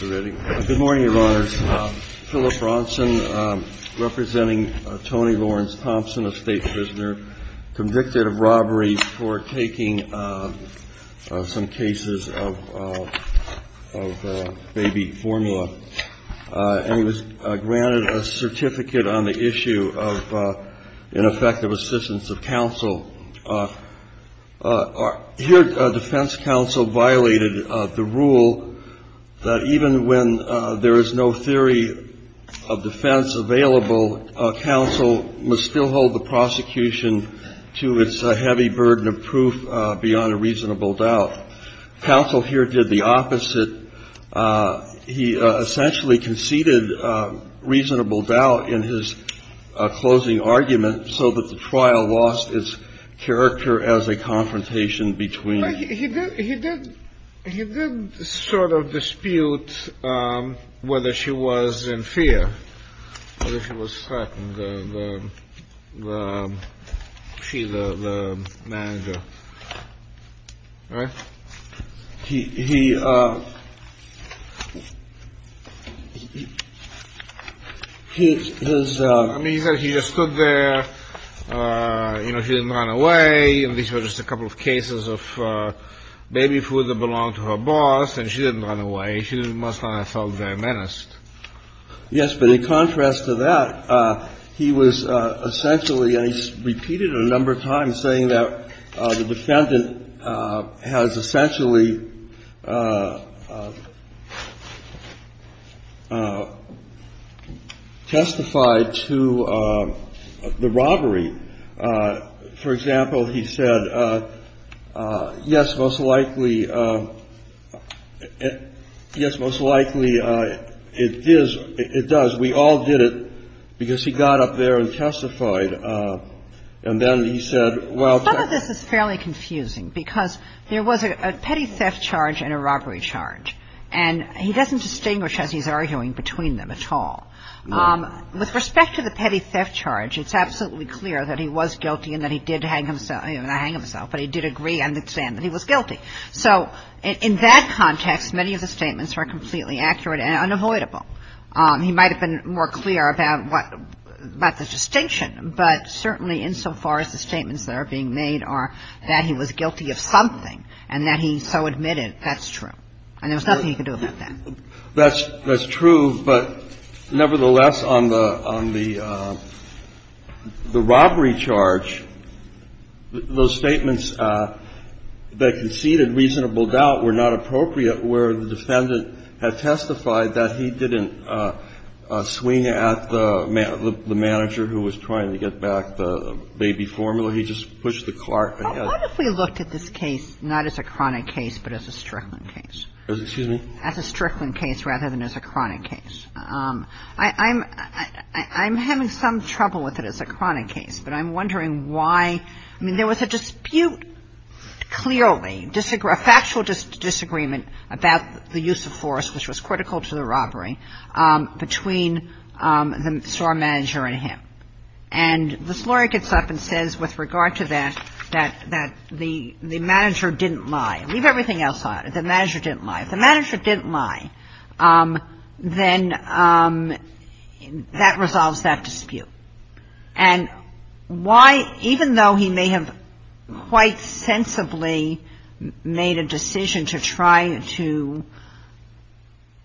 Good morning, Your Honors. Philip Bronson, representing Tony Lawrence Thompson, a state prisoner, convicted of robbery for taking some cases of baby formula, and was granted a certificate on the issue of ineffective assistance of counsel. Here, defense counsel violated the rule that even when there is no theory of defense available, counsel must still hold the prosecution to its heavy burden of proof beyond a reasonable doubt. Counsel here did the opposite. He essentially conceded reasonable doubt in his closing argument so that the trial lost its character as a confrontation between. He did. He did. He did sort of dispute whether she was in fear. She was threatened. She, the manager. All right. He. He. His. He said he just stood there. You know, she didn't run away. And these were just a couple of cases of baby food that belonged to her boss. And she didn't run away. The trial was violation and most of all, I felt very menaced. Yes. But in contrast to that, he was essentially, and he's repeated a number times, saying that the defendant has essentially testified to the robbery. For example, he said, yes, most likely, yes, most likely it is, it does, we all did it because he got up there and testified. And then he said, well, Some of this is fairly confusing because there was a petty theft charge and a robbery charge, and he doesn't distinguish, as he's arguing, between them at all. With respect to the petty theft charge, it's absolutely clear that he was guilty and that he did hang himself, not hang himself, but he did agree and understand that he was guilty. So in that context, many of the statements are completely accurate and unavoidable. He might have been more clear about what the distinction, but certainly insofar as the statements that are being made are that he was guilty of something and that he so admitted, that's true, and there was nothing he could do about that. That's true, but nevertheless, on the robbery charge, those statements that conceded reasonable doubt were not appropriate where the defendant had testified that he didn't swing at the manager who was trying to get back the baby formula. He just pushed the cart and had What if we looked at this case not as a chronic case, but as a Strickland case? Excuse me? As a Strickland case rather than as a chronic case. I'm having some trouble with it as a chronic case, but I'm wondering why — I mean, there was a dispute, clearly, a factual disagreement about the use of force, which was critical to the robbery, between the store manager and him. And this lawyer gets up and says, with regard to that, that the manager didn't lie. Leave everything else out. The manager didn't lie. If the manager didn't lie, then that resolves that dispute. And why, even though he may have quite sensibly made a decision to try to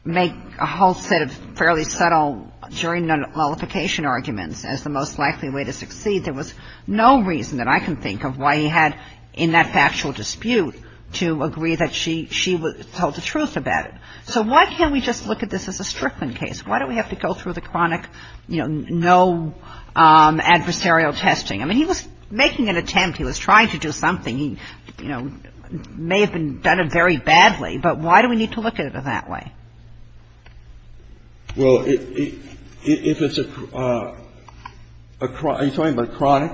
make a whole set of fairly subtle jury nullification arguments as the most likely way to succeed, there was no reason that I can think of why he had in that factual dispute to agree that she told the truth about it. So why can't we just look at this as a Strickland case? Why do we have to go through the chronic, you know, no adversarial testing? I mean, he was making an attempt. He was trying to do something. He, you know, may have done it very badly, but why do we need to look at it that way? Well, if it's a chronic, are you talking about chronic?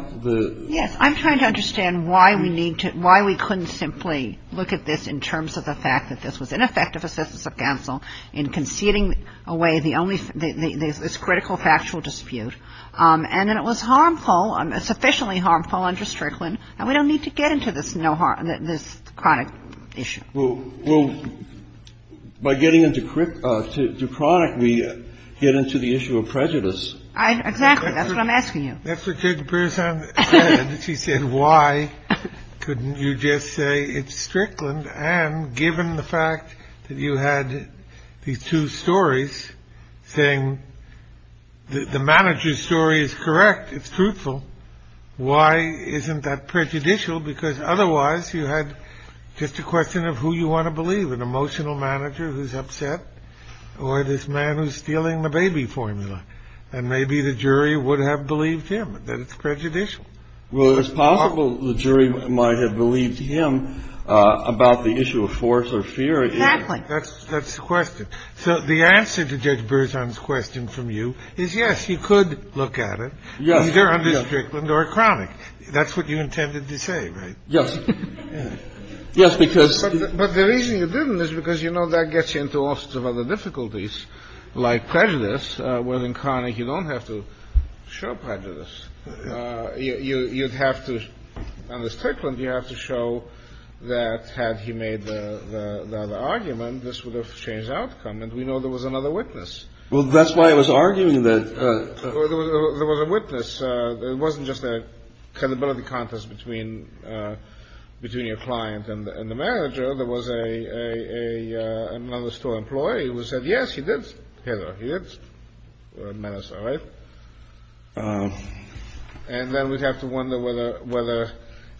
Yes. I'm trying to understand why we need to – why we couldn't simply look at this in terms of the fact that this was ineffective assistance of counsel in conceding away the only – this critical factual dispute, and that it was harmful, sufficiently harmful under Strickland, and we don't need to get into this no harm – this chronic issue. Well, by getting into chronic, we get into the issue of prejudice. Exactly. That's what I'm asking you. That's what Judge Bresson said. She said, why couldn't you just say it's Strickland? And given the fact that you had these two stories, saying the manager's story is correct, it's truthful, why isn't that prejudicial? Because otherwise, you had just a question of who you want to believe, an emotional manager who's upset, or this man who's stealing the baby formula. And maybe the jury would have believed him, that it's prejudicial. Well, it's possible the jury might have believed him about the issue of force or fear. Exactly. That's the question. So the answer to Judge Bresson's question from you is, yes, you could look at it. Either under Strickland or chronic. That's what you intended to say, right? Yes. Yes, because – But the reason you didn't is because you know that gets you into all sorts of other difficulties, like prejudice, where in chronic, you don't have to show prejudice. You'd have to – under Strickland, you have to show that had he made the argument, this would have changed the outcome, and we know there was another witness. Well, that's why I was arguing that – There was a witness. It wasn't just a credibility contest between your client and the manager. There was another store employee who said, yes, he did hit her. He did. Menace, all right? And then we'd have to wonder whether,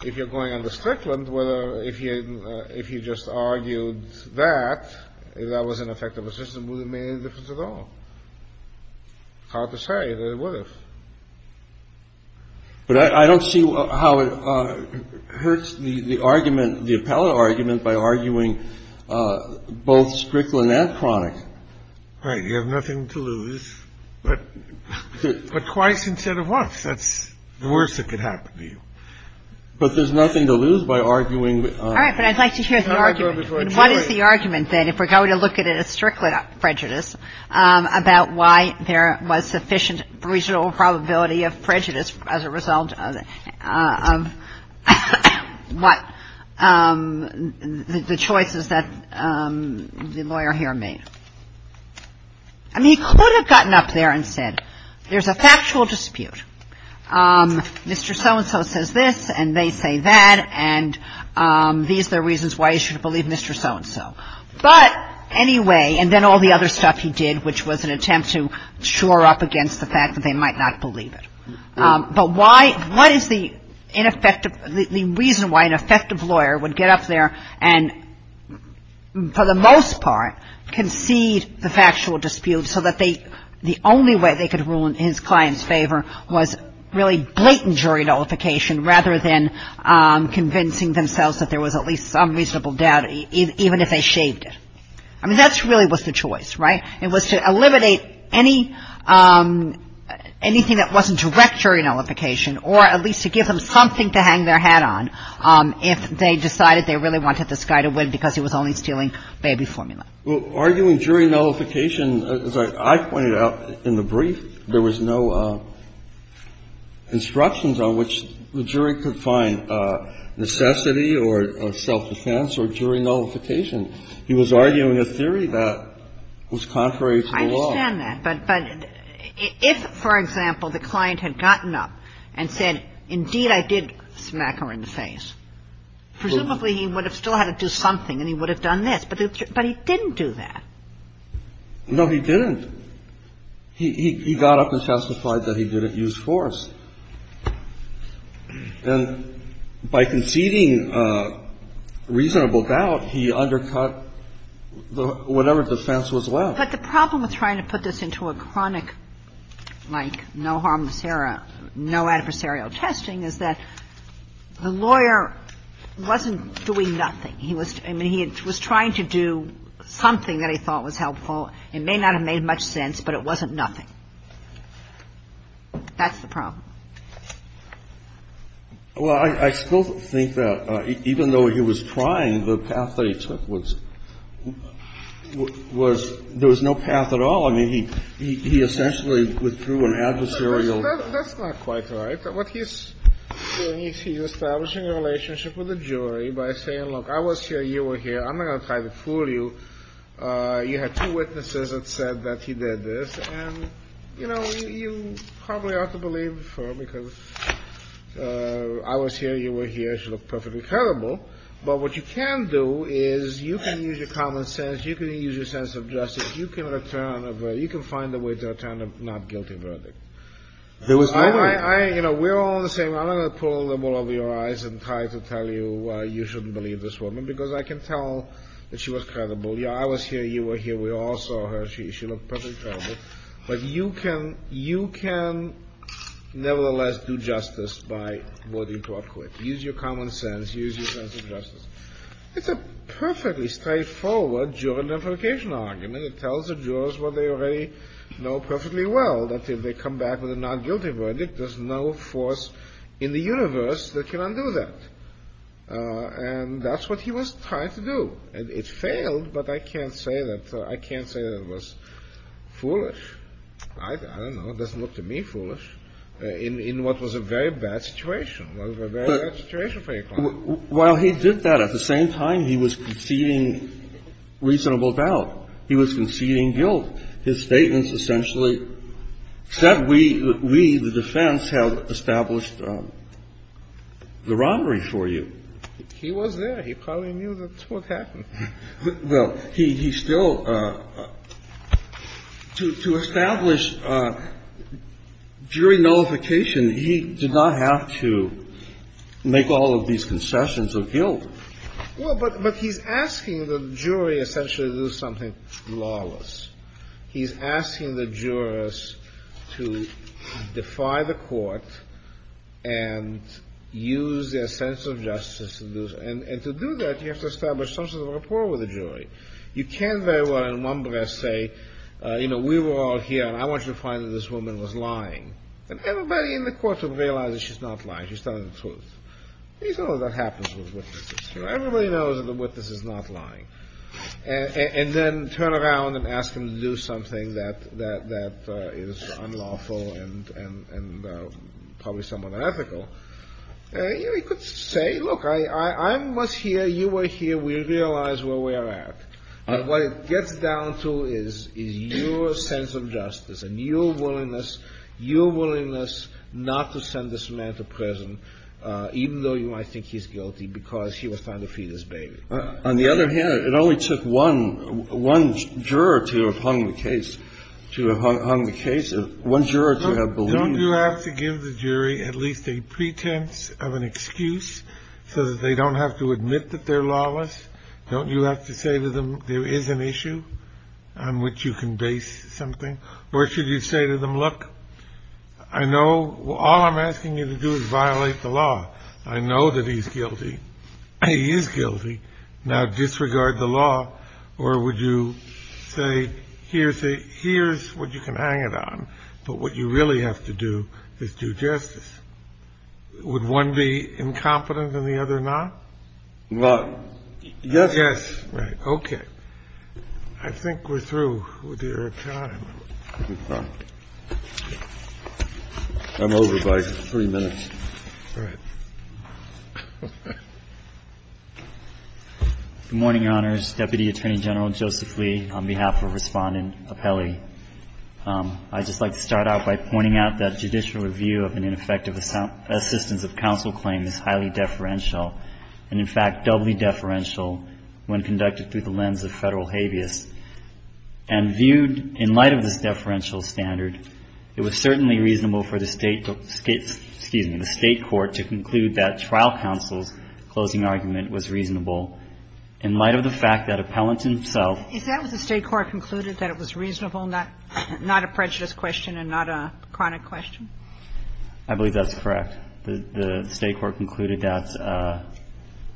if you're going under Strickland, whether if you just argued that that was an effective assistance, would it make any difference at all? Hard to say that it would have. But I don't see how it hurts the argument, the appellate argument, by arguing both Strickland and chronic. Right. You have nothing to lose. But twice instead of once. That's the worst that could happen to you. But there's nothing to lose by arguing – All right. But I'd like to hear the argument. And what is the argument, then, if we're going to look at a Strickland prejudice about why there was sufficient reasonable probability of prejudice as a result of what the choices that the lawyer here made? I mean, he could have gotten up there and said, there's a factual dispute. Mr. So-and-so says this, and they say that, and these are the reasons why you should believe Mr. So-and-so. But anyway, and then all the other stuff he did, which was an attempt to shore up against the fact that they might not believe it. But why – what is the reason why an effective lawyer would get up there and, for the most part, concede the factual dispute so that they – the only way they could rule in his client's favor was really blatant jury nullification rather than convincing themselves that there was at least some reasonable doubt, even if they shaved it. I mean, that really was the choice, right? It was to eliminate any – anything that wasn't direct jury nullification or at least to give them something to hang their hat on if they decided they really wanted this guy to win because he was only stealing baby formula. Well, arguing jury nullification, as I pointed out in the brief, there was no instructions on which the jury could find necessity or self-defense or jury nullification. He was arguing a theory that was contrary to the law. I understand that. But if, for example, the client had gotten up and said, indeed I did smack her in the face, presumably he would have still had to do something and he would have done this. But he didn't do that. No, he didn't. He got up and testified that he didn't use force. And by conceding reasonable doubt, he undercut whatever defense was left. But the problem with trying to put this into a chronic, like, no harm, no adversarial testing is that the lawyer wasn't doing nothing. He was – I mean, he was trying to do something that he thought was helpful. It may not have made much sense, but it wasn't nothing. That's the problem. Well, I still think that even though he was trying, the path that he took was – there was no path at all. I mean, he essentially withdrew an adversarial – That's not quite right. What he's doing is he's establishing a relationship with the jury by saying, look, I was here, you were here, I'm not going to try to fool you. You had two witnesses that said that he did this. And, you know, you probably ought to believe the firm, because I was here, you were here, she looked perfectly credible. But what you can do is you can use your common sense, you can use your sense of justice, you can return a verdict. You can find a way to return a not guilty verdict. There was no way. I – you know, we're all the same. I'm not going to pull the wool over your eyes and try to tell you you shouldn't believe this woman, because I can tell that she was credible. Yeah, I was here, you were here, we all saw her. She looked perfectly credible. But you can – you can nevertheless do justice by voting to up court. Use your common sense, use your sense of justice. It's a perfectly straightforward juridimplication argument. It tells the jurors what they already know perfectly well, that if they come back with a not guilty verdict, there's no force in the universe that can undo that. And that's what he was trying to do. And it failed, but I can't say that – I can't say that it was foolish. I don't know. It doesn't look to me foolish in what was a very bad situation, what was a very bad situation for your client. But while he did that, at the same time, he was conceding reasonable doubt. He was conceding guilt. His statements essentially said we, the defense, have established the robbery for you. He was there. He probably knew that's what happened. Kennedy. Well, he still – to establish jury nullification, he did not have to make all of these concessions of guilt. Well, but he's asking the jury essentially to do something lawless. He's asking the jurors to defy the court and use their sense of justice. And to do that, you have to establish some sort of rapport with the jury. You can't very well in one breath say, you know, we were all here and I want you to find that this woman was lying. And everybody in the court will realize that she's not lying. She's telling the truth. You know that happens with witnesses. Everybody knows that the witness is not lying. And then turn around and ask them to do something that is unlawful and probably somewhat unethical. You know, you could say, look, I was here, you were here, we realize where we are at. What it gets down to is your sense of justice and your willingness, your willingness not to send this man to prison, even though you might think he's guilty because he was trying to feed his baby. On the other hand, it only took one juror to have hung the case. To have hung the case, one juror to have believed. Don't you have to give the jury at least a pretense of an excuse so that they don't have to admit that they're lawless? Don't you have to say to them there is an issue on which you can base something? Or should you say to them, look, I know all I'm asking you to do is violate the law. I know that he's guilty. He is guilty. Now disregard the law. Or would you say, here's what you can hang it on. But what you really have to do is do justice. Would one be incompetent and the other not? Yes. Right. Okay. I think we're through with your time. I'm over by three minutes. Right. Good morning, Your Honors. Deputy Attorney General Joseph Lee, on behalf of Respondent Apelli. I'd just like to start out by pointing out that judicial review of an ineffective assistance of counsel claim is highly deferential and, in fact, doubly deferential when conducted through the lens of Federal habeas. And viewed in light of this deferential standard, it was certainly reasonable for the State to excuse me, the State court to conclude that trial counsel's closing argument was reasonable in light of the fact that Appellant himself. Is that what the State court concluded, that it was reasonable, not a prejudice question and not a chronic question? I believe that's correct. The State court concluded that.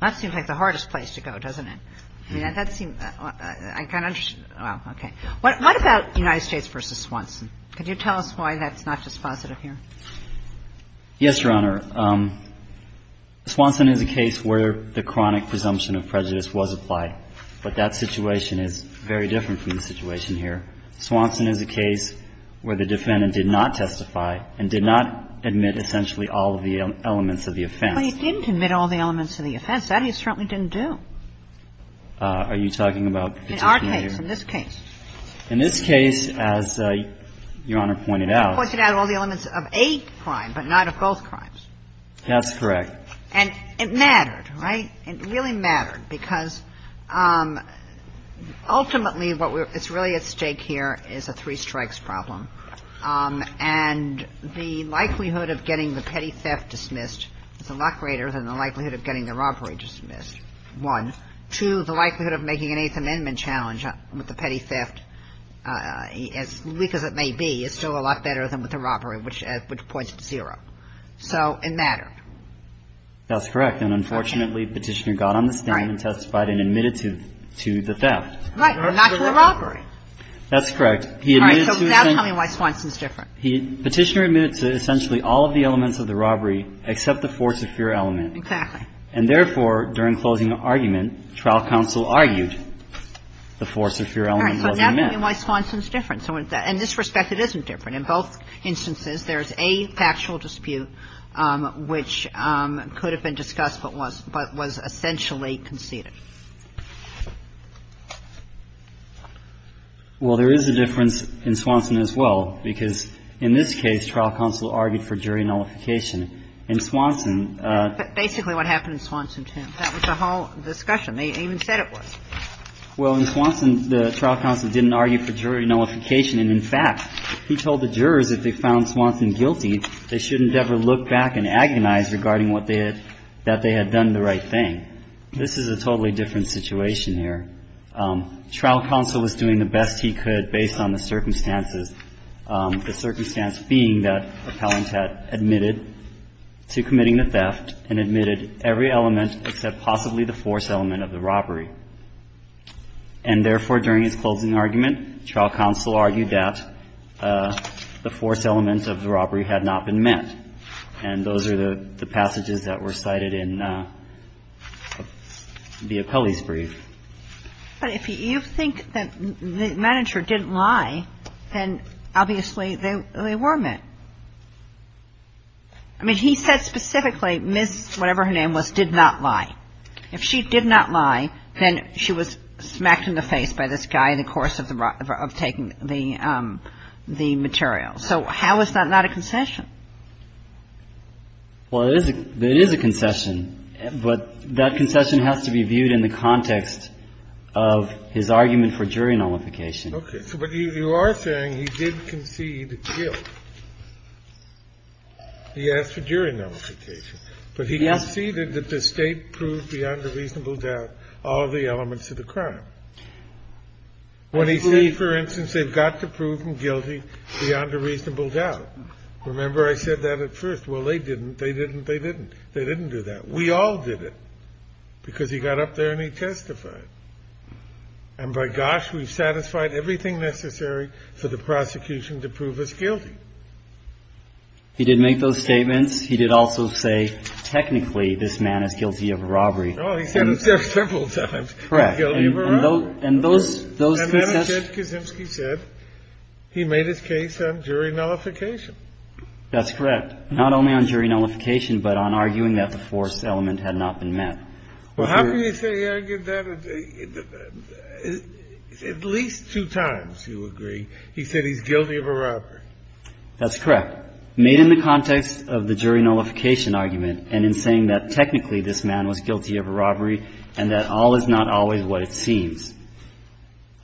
That seems like the hardest place to go, doesn't it? I mean, that seems – I'm kind of – well, okay. What about United States v. Swanson? Could you tell us why that's not just positive here? Yes, Your Honor. Swanson is a case where the chronic presumption of prejudice was applied. But that situation is very different from the situation here. Swanson is a case where the defendant did not testify and did not admit essentially all of the elements of the offense. Well, he didn't admit all of the elements of the offense. That he certainly didn't do. Are you talking about the prosecutor? In our case, in this case. In this case, as Your Honor pointed out. He pointed out all the elements of a crime, but not of both crimes. That's correct. And it mattered, right? It really mattered because ultimately what's really at stake here is a three-strikes problem. And the likelihood of getting the petty theft dismissed is a lot greater than the likelihood of getting the robbery dismissed, one. Two, the likelihood of making an Eighth Amendment challenge with the petty theft, as weak as it may be, is still a lot better than with the robbery, which points to zero. So it mattered. That's correct. And unfortunately, Petitioner got on the stand and testified and admitted to the theft. Right. Not to the robbery. That's correct. He admitted to essentially. All right. So now tell me why Swanson's different. Petitioner admitted to essentially all of the elements of the robbery, except the force of fear element. Exactly. And therefore, during closing argument, trial counsel argued the force of fear element wasn't met. So now tell me why Swanson's different. In this respect, it isn't different. In both instances, there's a factual dispute which could have been discussed but was essentially conceded. Well, there is a difference in Swanson as well, because in this case, trial counsel argued for jury nullification. In Swanson ---- But basically what happened in Swanson, too. That was the whole discussion. They even said it was. Well, in Swanson, the trial counsel didn't argue for jury nullification. And in fact, he told the jurors if they found Swanson guilty, they shouldn't ever look back and agonize regarding what they had ---- that they had done the right thing. This is a totally different situation here. Trial counsel was doing the best he could based on the circumstances, the circumstance being that appellant had admitted to committing the theft and admitted every element except possibly the force element of the robbery. And therefore, during his closing argument, trial counsel argued that the force element of the robbery had not been met. And those are the passages that were cited in the appellee's brief. But if you think that the manager didn't lie, then obviously they were met. I mean, he said specifically Ms. whatever her name was did not lie. If she did not lie, then she was smacked in the face by this guy in the course of taking the material. So how is that not a concession? Well, it is a concession. But that concession has to be viewed in the context of his argument for jury nullification. Okay. But you are saying he did concede guilt. He asked for jury nullification. Yes. He conceded that the State proved beyond a reasonable doubt all of the elements of the crime. When he said, for instance, they've got to prove him guilty beyond a reasonable doubt. Remember, I said that at first. Well, they didn't. They didn't. They didn't. They didn't do that. We all did it because he got up there and he testified. And by gosh, we've satisfied everything necessary for the prosecution to prove us guilty. He did make those statements. He did also say technically this man is guilty of a robbery. Oh, he said it several times. Guilty of a robbery. And those, those. And then Ted Kaczynski said he made his case on jury nullification. That's correct. Not only on jury nullification, but on arguing that the force element had not been met. Well, how can you say he argued that? At least two times, you agree. He said he's guilty of a robbery. That's correct. Made in the context of the jury nullification argument and in saying that technically this man was guilty of a robbery and that all is not always what it seems.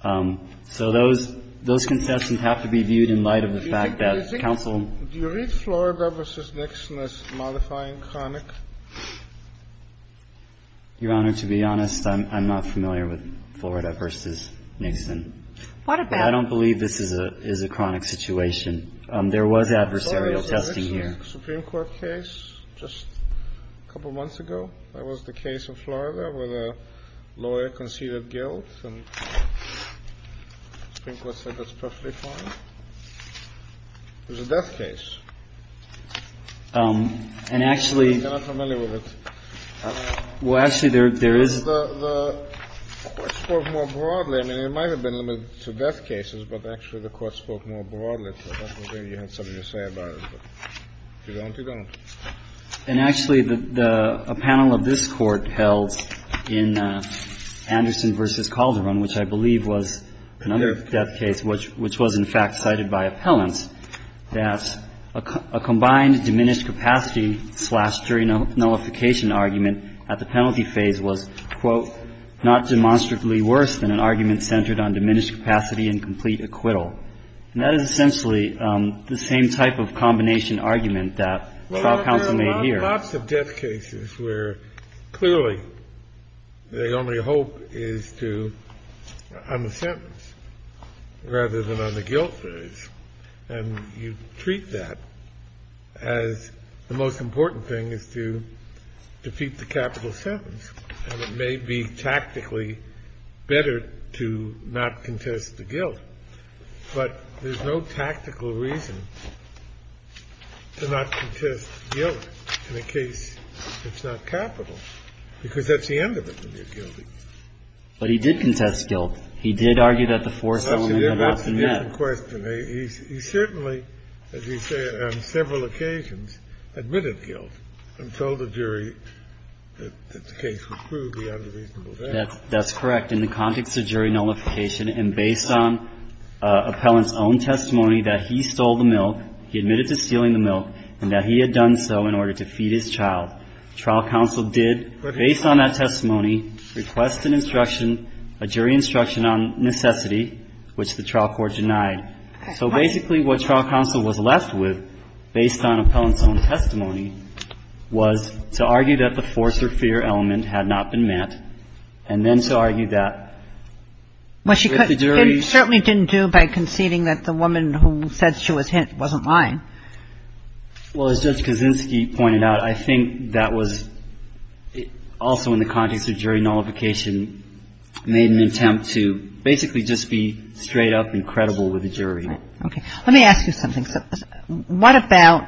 So those, those concessions have to be viewed in light of the fact that counsel Do you read Florida v. Nixon as modifying chronic? Your Honor, to be honest, I'm not familiar with Florida v. Nixon. What about? I don't believe this is a chronic situation. There was adversarial testing here. Supreme Court case just a couple months ago. That was the case of Florida where the lawyer conceded guilt. And the Supreme Court said that's perfectly fine. It was a death case. And actually. I'm not familiar with it. Well, actually, there is. The Court spoke more broadly. I mean, it might have been limited to death cases, but actually the Court spoke more broadly. I don't know if you have something to say about it. If you don't, you don't. And actually, a panel of this Court held in Anderson v. Calderon, which I believe was another death case, which was in fact cited by appellants, that a combined diminished capacity slash jury nullification argument at the penalty phase was, quote, not demonstrably worse than an argument centered on diminished capacity and complete acquittal. And that is essentially the same type of combination argument that trial counsel made here. Well, there are lots of death cases where clearly the only hope is to, on the sentence rather than on the guilt phase. And you treat that as the most important thing is to defeat the capital sentence. And it may be tactically better to not contest the guilt, but there's no tactical reason to not contest guilt in a case that's not capital, because that's the end of it when you're guilty. But he did contest guilt. He did argue that the force element had not been met. That's an interesting question. He certainly, as you say, on several occasions admitted guilt and told the jury that the case was proved beyond a reasonable doubt. That's correct. In the context of jury nullification and based on appellant's own testimony that he stole the milk, he admitted to stealing the milk, and that he had done so in order to feed his child. Trial counsel did, based on that testimony, request an instruction, a jury instruction on necessity, which the trial court denied. So basically what trial counsel was left with, based on appellant's own testimony, was to argue that the force or fear element had not been met, and then to argue that if the jury's ---- It certainly didn't do by conceding that the woman who said she was hit wasn't lying. Well, as Judge Kaczynski pointed out, I think that was also in the context of jury nullification, made an attempt to basically just be straight up and credible with the jury. Okay. Let me ask you something. What about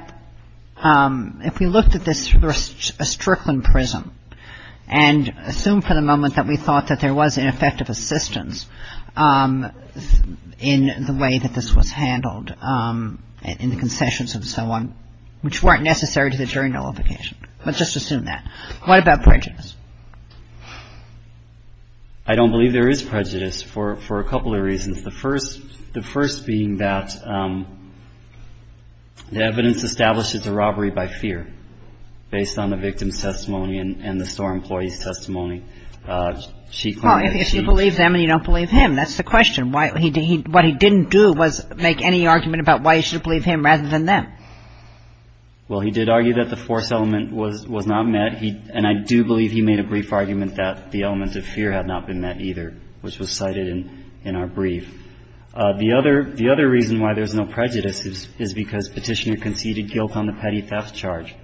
if we looked at this through a Strickland prism and assumed for the moment that we thought that there was an effect of assistance in the way that this was handled in the concessions and so on, which weren't necessary to the jury nullification? Let's just assume that. What about prejudice? I don't believe there is prejudice for a couple of reasons. The first being that the evidence established it's a robbery by fear, based on the victim's testimony and the store employee's testimony. Well, if you believe them and you don't believe him, that's the question. What he didn't do was make any argument about why you should believe him rather than them. Well, he did argue that the force element was not met, and I do believe he made a brief argument about that. He didn't argue that the force element was not met either, which was cited in our brief. The other reason why there's no prejudice is because Petitioner conceded guilt on the petty theft charge,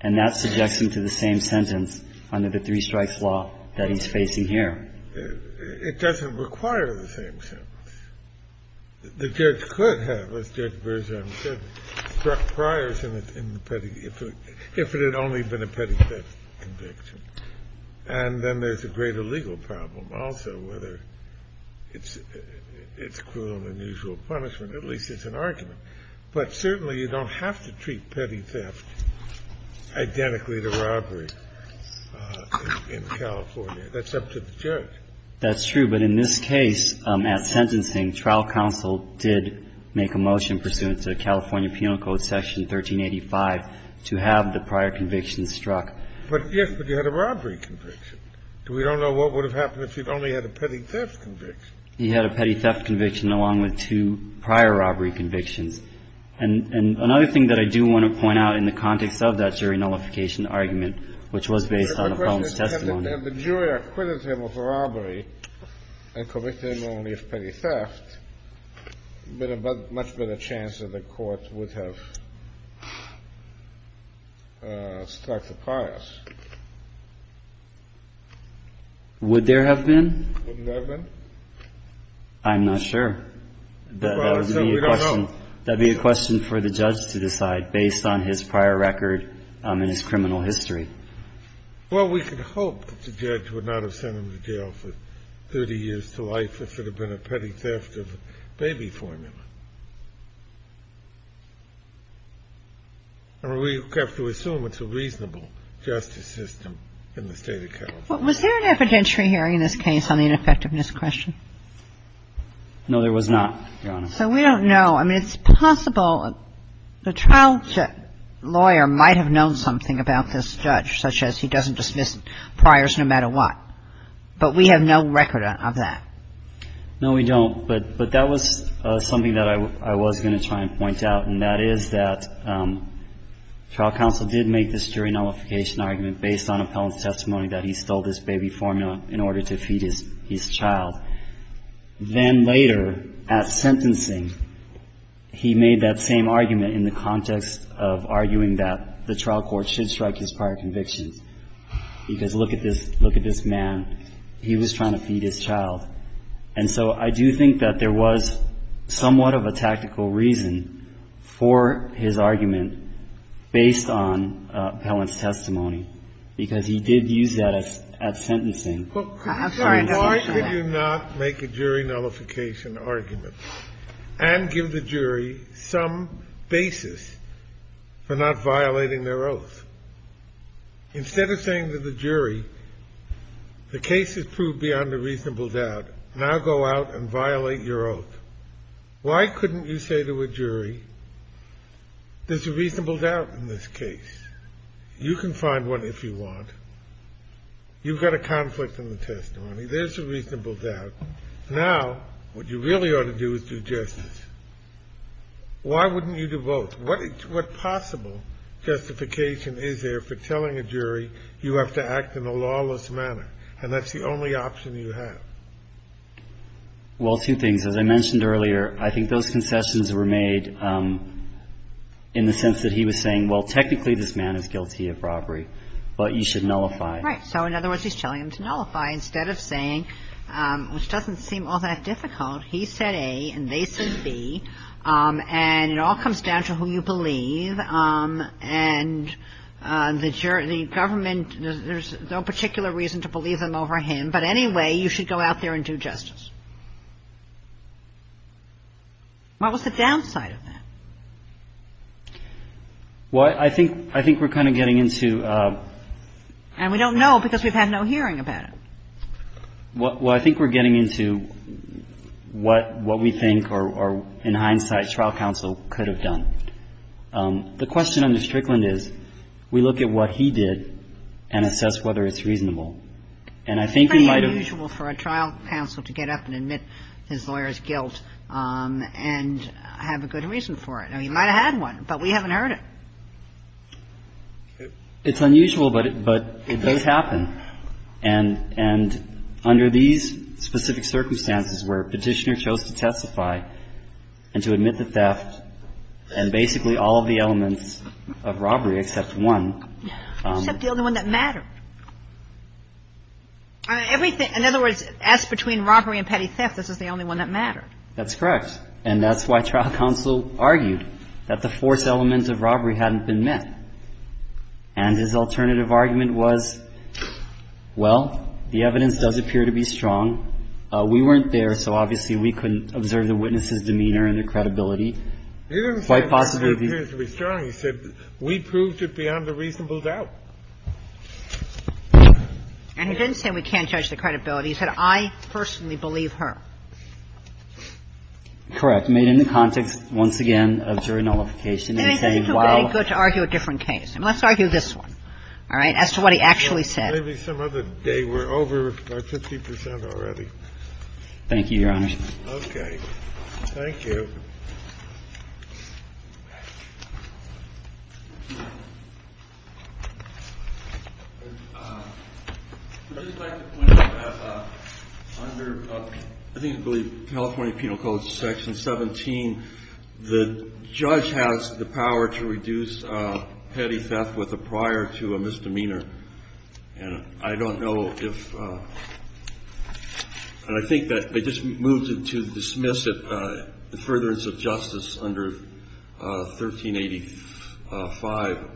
and that suggests him to the same sentence under the three-strikes law that he's facing here. It doesn't require the same sentence. The judge could have, as Judge Bergeron said, struck priors in the petty – if it had only been a petty theft conviction. And then there's a greater legal problem also, whether it's cruel and unusual punishment. At least it's an argument. But certainly you don't have to treat petty theft identically to robbery in California. That's up to the judge. That's true. But in this case, at sentencing, trial counsel did make a motion pursuant to California Penal Code Section 1385 to have the prior conviction struck. But, yes, but you had a robbery conviction. We don't know what would have happened if you'd only had a petty theft conviction. You had a petty theft conviction along with two prior robbery convictions. And another thing that I do want to point out in the context of that jury nullification argument, which was based on Appellant's testimony – The question is, had the jury acquitted him of robbery and convicted him only of petty theft, would the jury have struck the pious? Would there have been? Wouldn't there have been? I'm not sure. Well, we don't know. That would be a question for the judge to decide based on his prior record and his criminal history. Well, we could hope that the judge would not have sent him to jail for 30 years to life if it had been a petty theft of baby formula. And we have to assume it's a reasonable justice system in the State of California. Was there an evidentiary hearing in this case on the ineffectiveness question? No, there was not, Your Honor. So we don't know. I mean, it's possible the child lawyer might have known something about this judge, such as he doesn't dismiss priors no matter what. But we have no record of that. No, we don't. But that was something that I was going to try and point out, and that is that trial counsel did make this jury nullification argument based on appellant's testimony that he stole this baby formula in order to feed his child. Then later at sentencing, he made that same argument in the context of arguing that the trial court should strike his prior convictions, because look at this man. He was trying to feed his child. And so I do think that there was somewhat of a tactical reason for his argument based on appellant's testimony, because he did use that at sentencing. I'm sorry. Why could you not make a jury nullification argument and give the jury some basis for not violating their oath? Instead of saying to the jury, the case has proved beyond a reasonable doubt. Now go out and violate your oath. Why couldn't you say to a jury, there's a reasonable doubt in this case. You can find one if you want. You've got a conflict in the testimony. There's a reasonable doubt. Now what you really ought to do is do justice. Why wouldn't you do both? What possible justification is there for telling a jury you have to act in a lawless manner and that's the only option you have? Well, two things. As I mentioned earlier, I think those concessions were made in the sense that he was saying, well, technically this man is guilty of robbery, but you should nullify it. Right. So in other words, he's telling them to nullify instead of saying, which doesn't seem all that difficult, he said A and they said B, and it all comes down to who you believe. And the government, there's no particular reason to believe them over him, but anyway, you should go out there and do justice. What was the downside of that? Well, I think we're kind of getting into ---- And we don't know because we've had no hearing about it. Well, I think we're getting into what we think or in hindsight trial counsel could have done. The question under Strickland is we look at what he did and assess whether it's reasonable. And I think we might have ---- It's pretty unusual for a trial counsel to get up and admit his lawyer's guilt and have a good reason for it. I mean, he might have had one, but we haven't heard it. It's unusual, but it does happen. And under these specific circumstances where Petitioner chose to testify and to admit the theft and basically all of the elements of robbery except one ---- Except the only one that mattered. In other words, as between robbery and petty theft, this is the only one that mattered. That's correct. And that's why trial counsel argued that the fourth element of robbery hadn't been met. And his alternative argument was, well, the evidence does appear to be strong. We weren't there, so obviously we couldn't observe the witness's demeanor and the credibility. He didn't say the evidence appears to be strong. He said we proved it beyond a reasonable doubt. And he didn't say we can't judge the credibility. He said I personally believe her. Correct. Made in the context, once again, of jury nullification. And he said, well ---- It would be good to argue a different case. Let's argue this one. All right? As to what he actually said. Maybe some other day. We're over by 50 percent already. Thank you, Your Honor. Okay. Thank you. I would just like to point out that under, I believe, California Penal Code section 17, the judge has the power to reduce petty theft with a prior to a misdemeanor. And I don't know if, and I think that they just moved it to dismiss it, the furtherance of justice under 1385.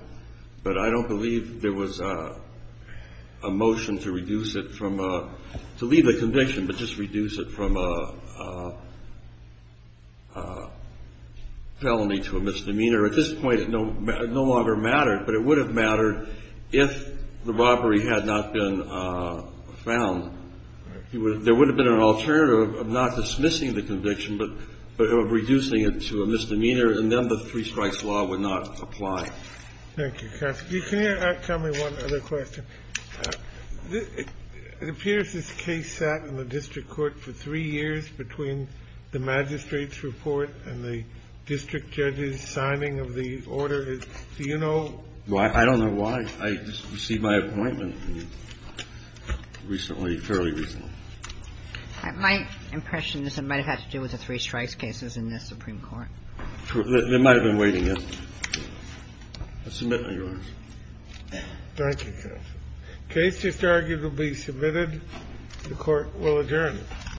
But I don't believe there was a motion to reduce it from a, to leave the conviction, but just reduce it from a felony to a misdemeanor. At this point, it no longer mattered. But it would have mattered if the robbery had not been found. There would have been an alternative of not dismissing the conviction, but of reducing it to a misdemeanor, and then the three strikes law would not apply. Thank you. Counsel, can you tell me one other question? It appears this case sat in the district court for three years between the magistrate's report and the district judge's signing of the order. Do you know? Well, I don't know why. I just received my appointment recently, fairly recently. My impression is it might have had to do with the three strikes cases in the Supreme Court. They might have been waiting, yes. I submit, Your Honor. Thank you, counsel. The case is arguably submitted. The court will adjourn.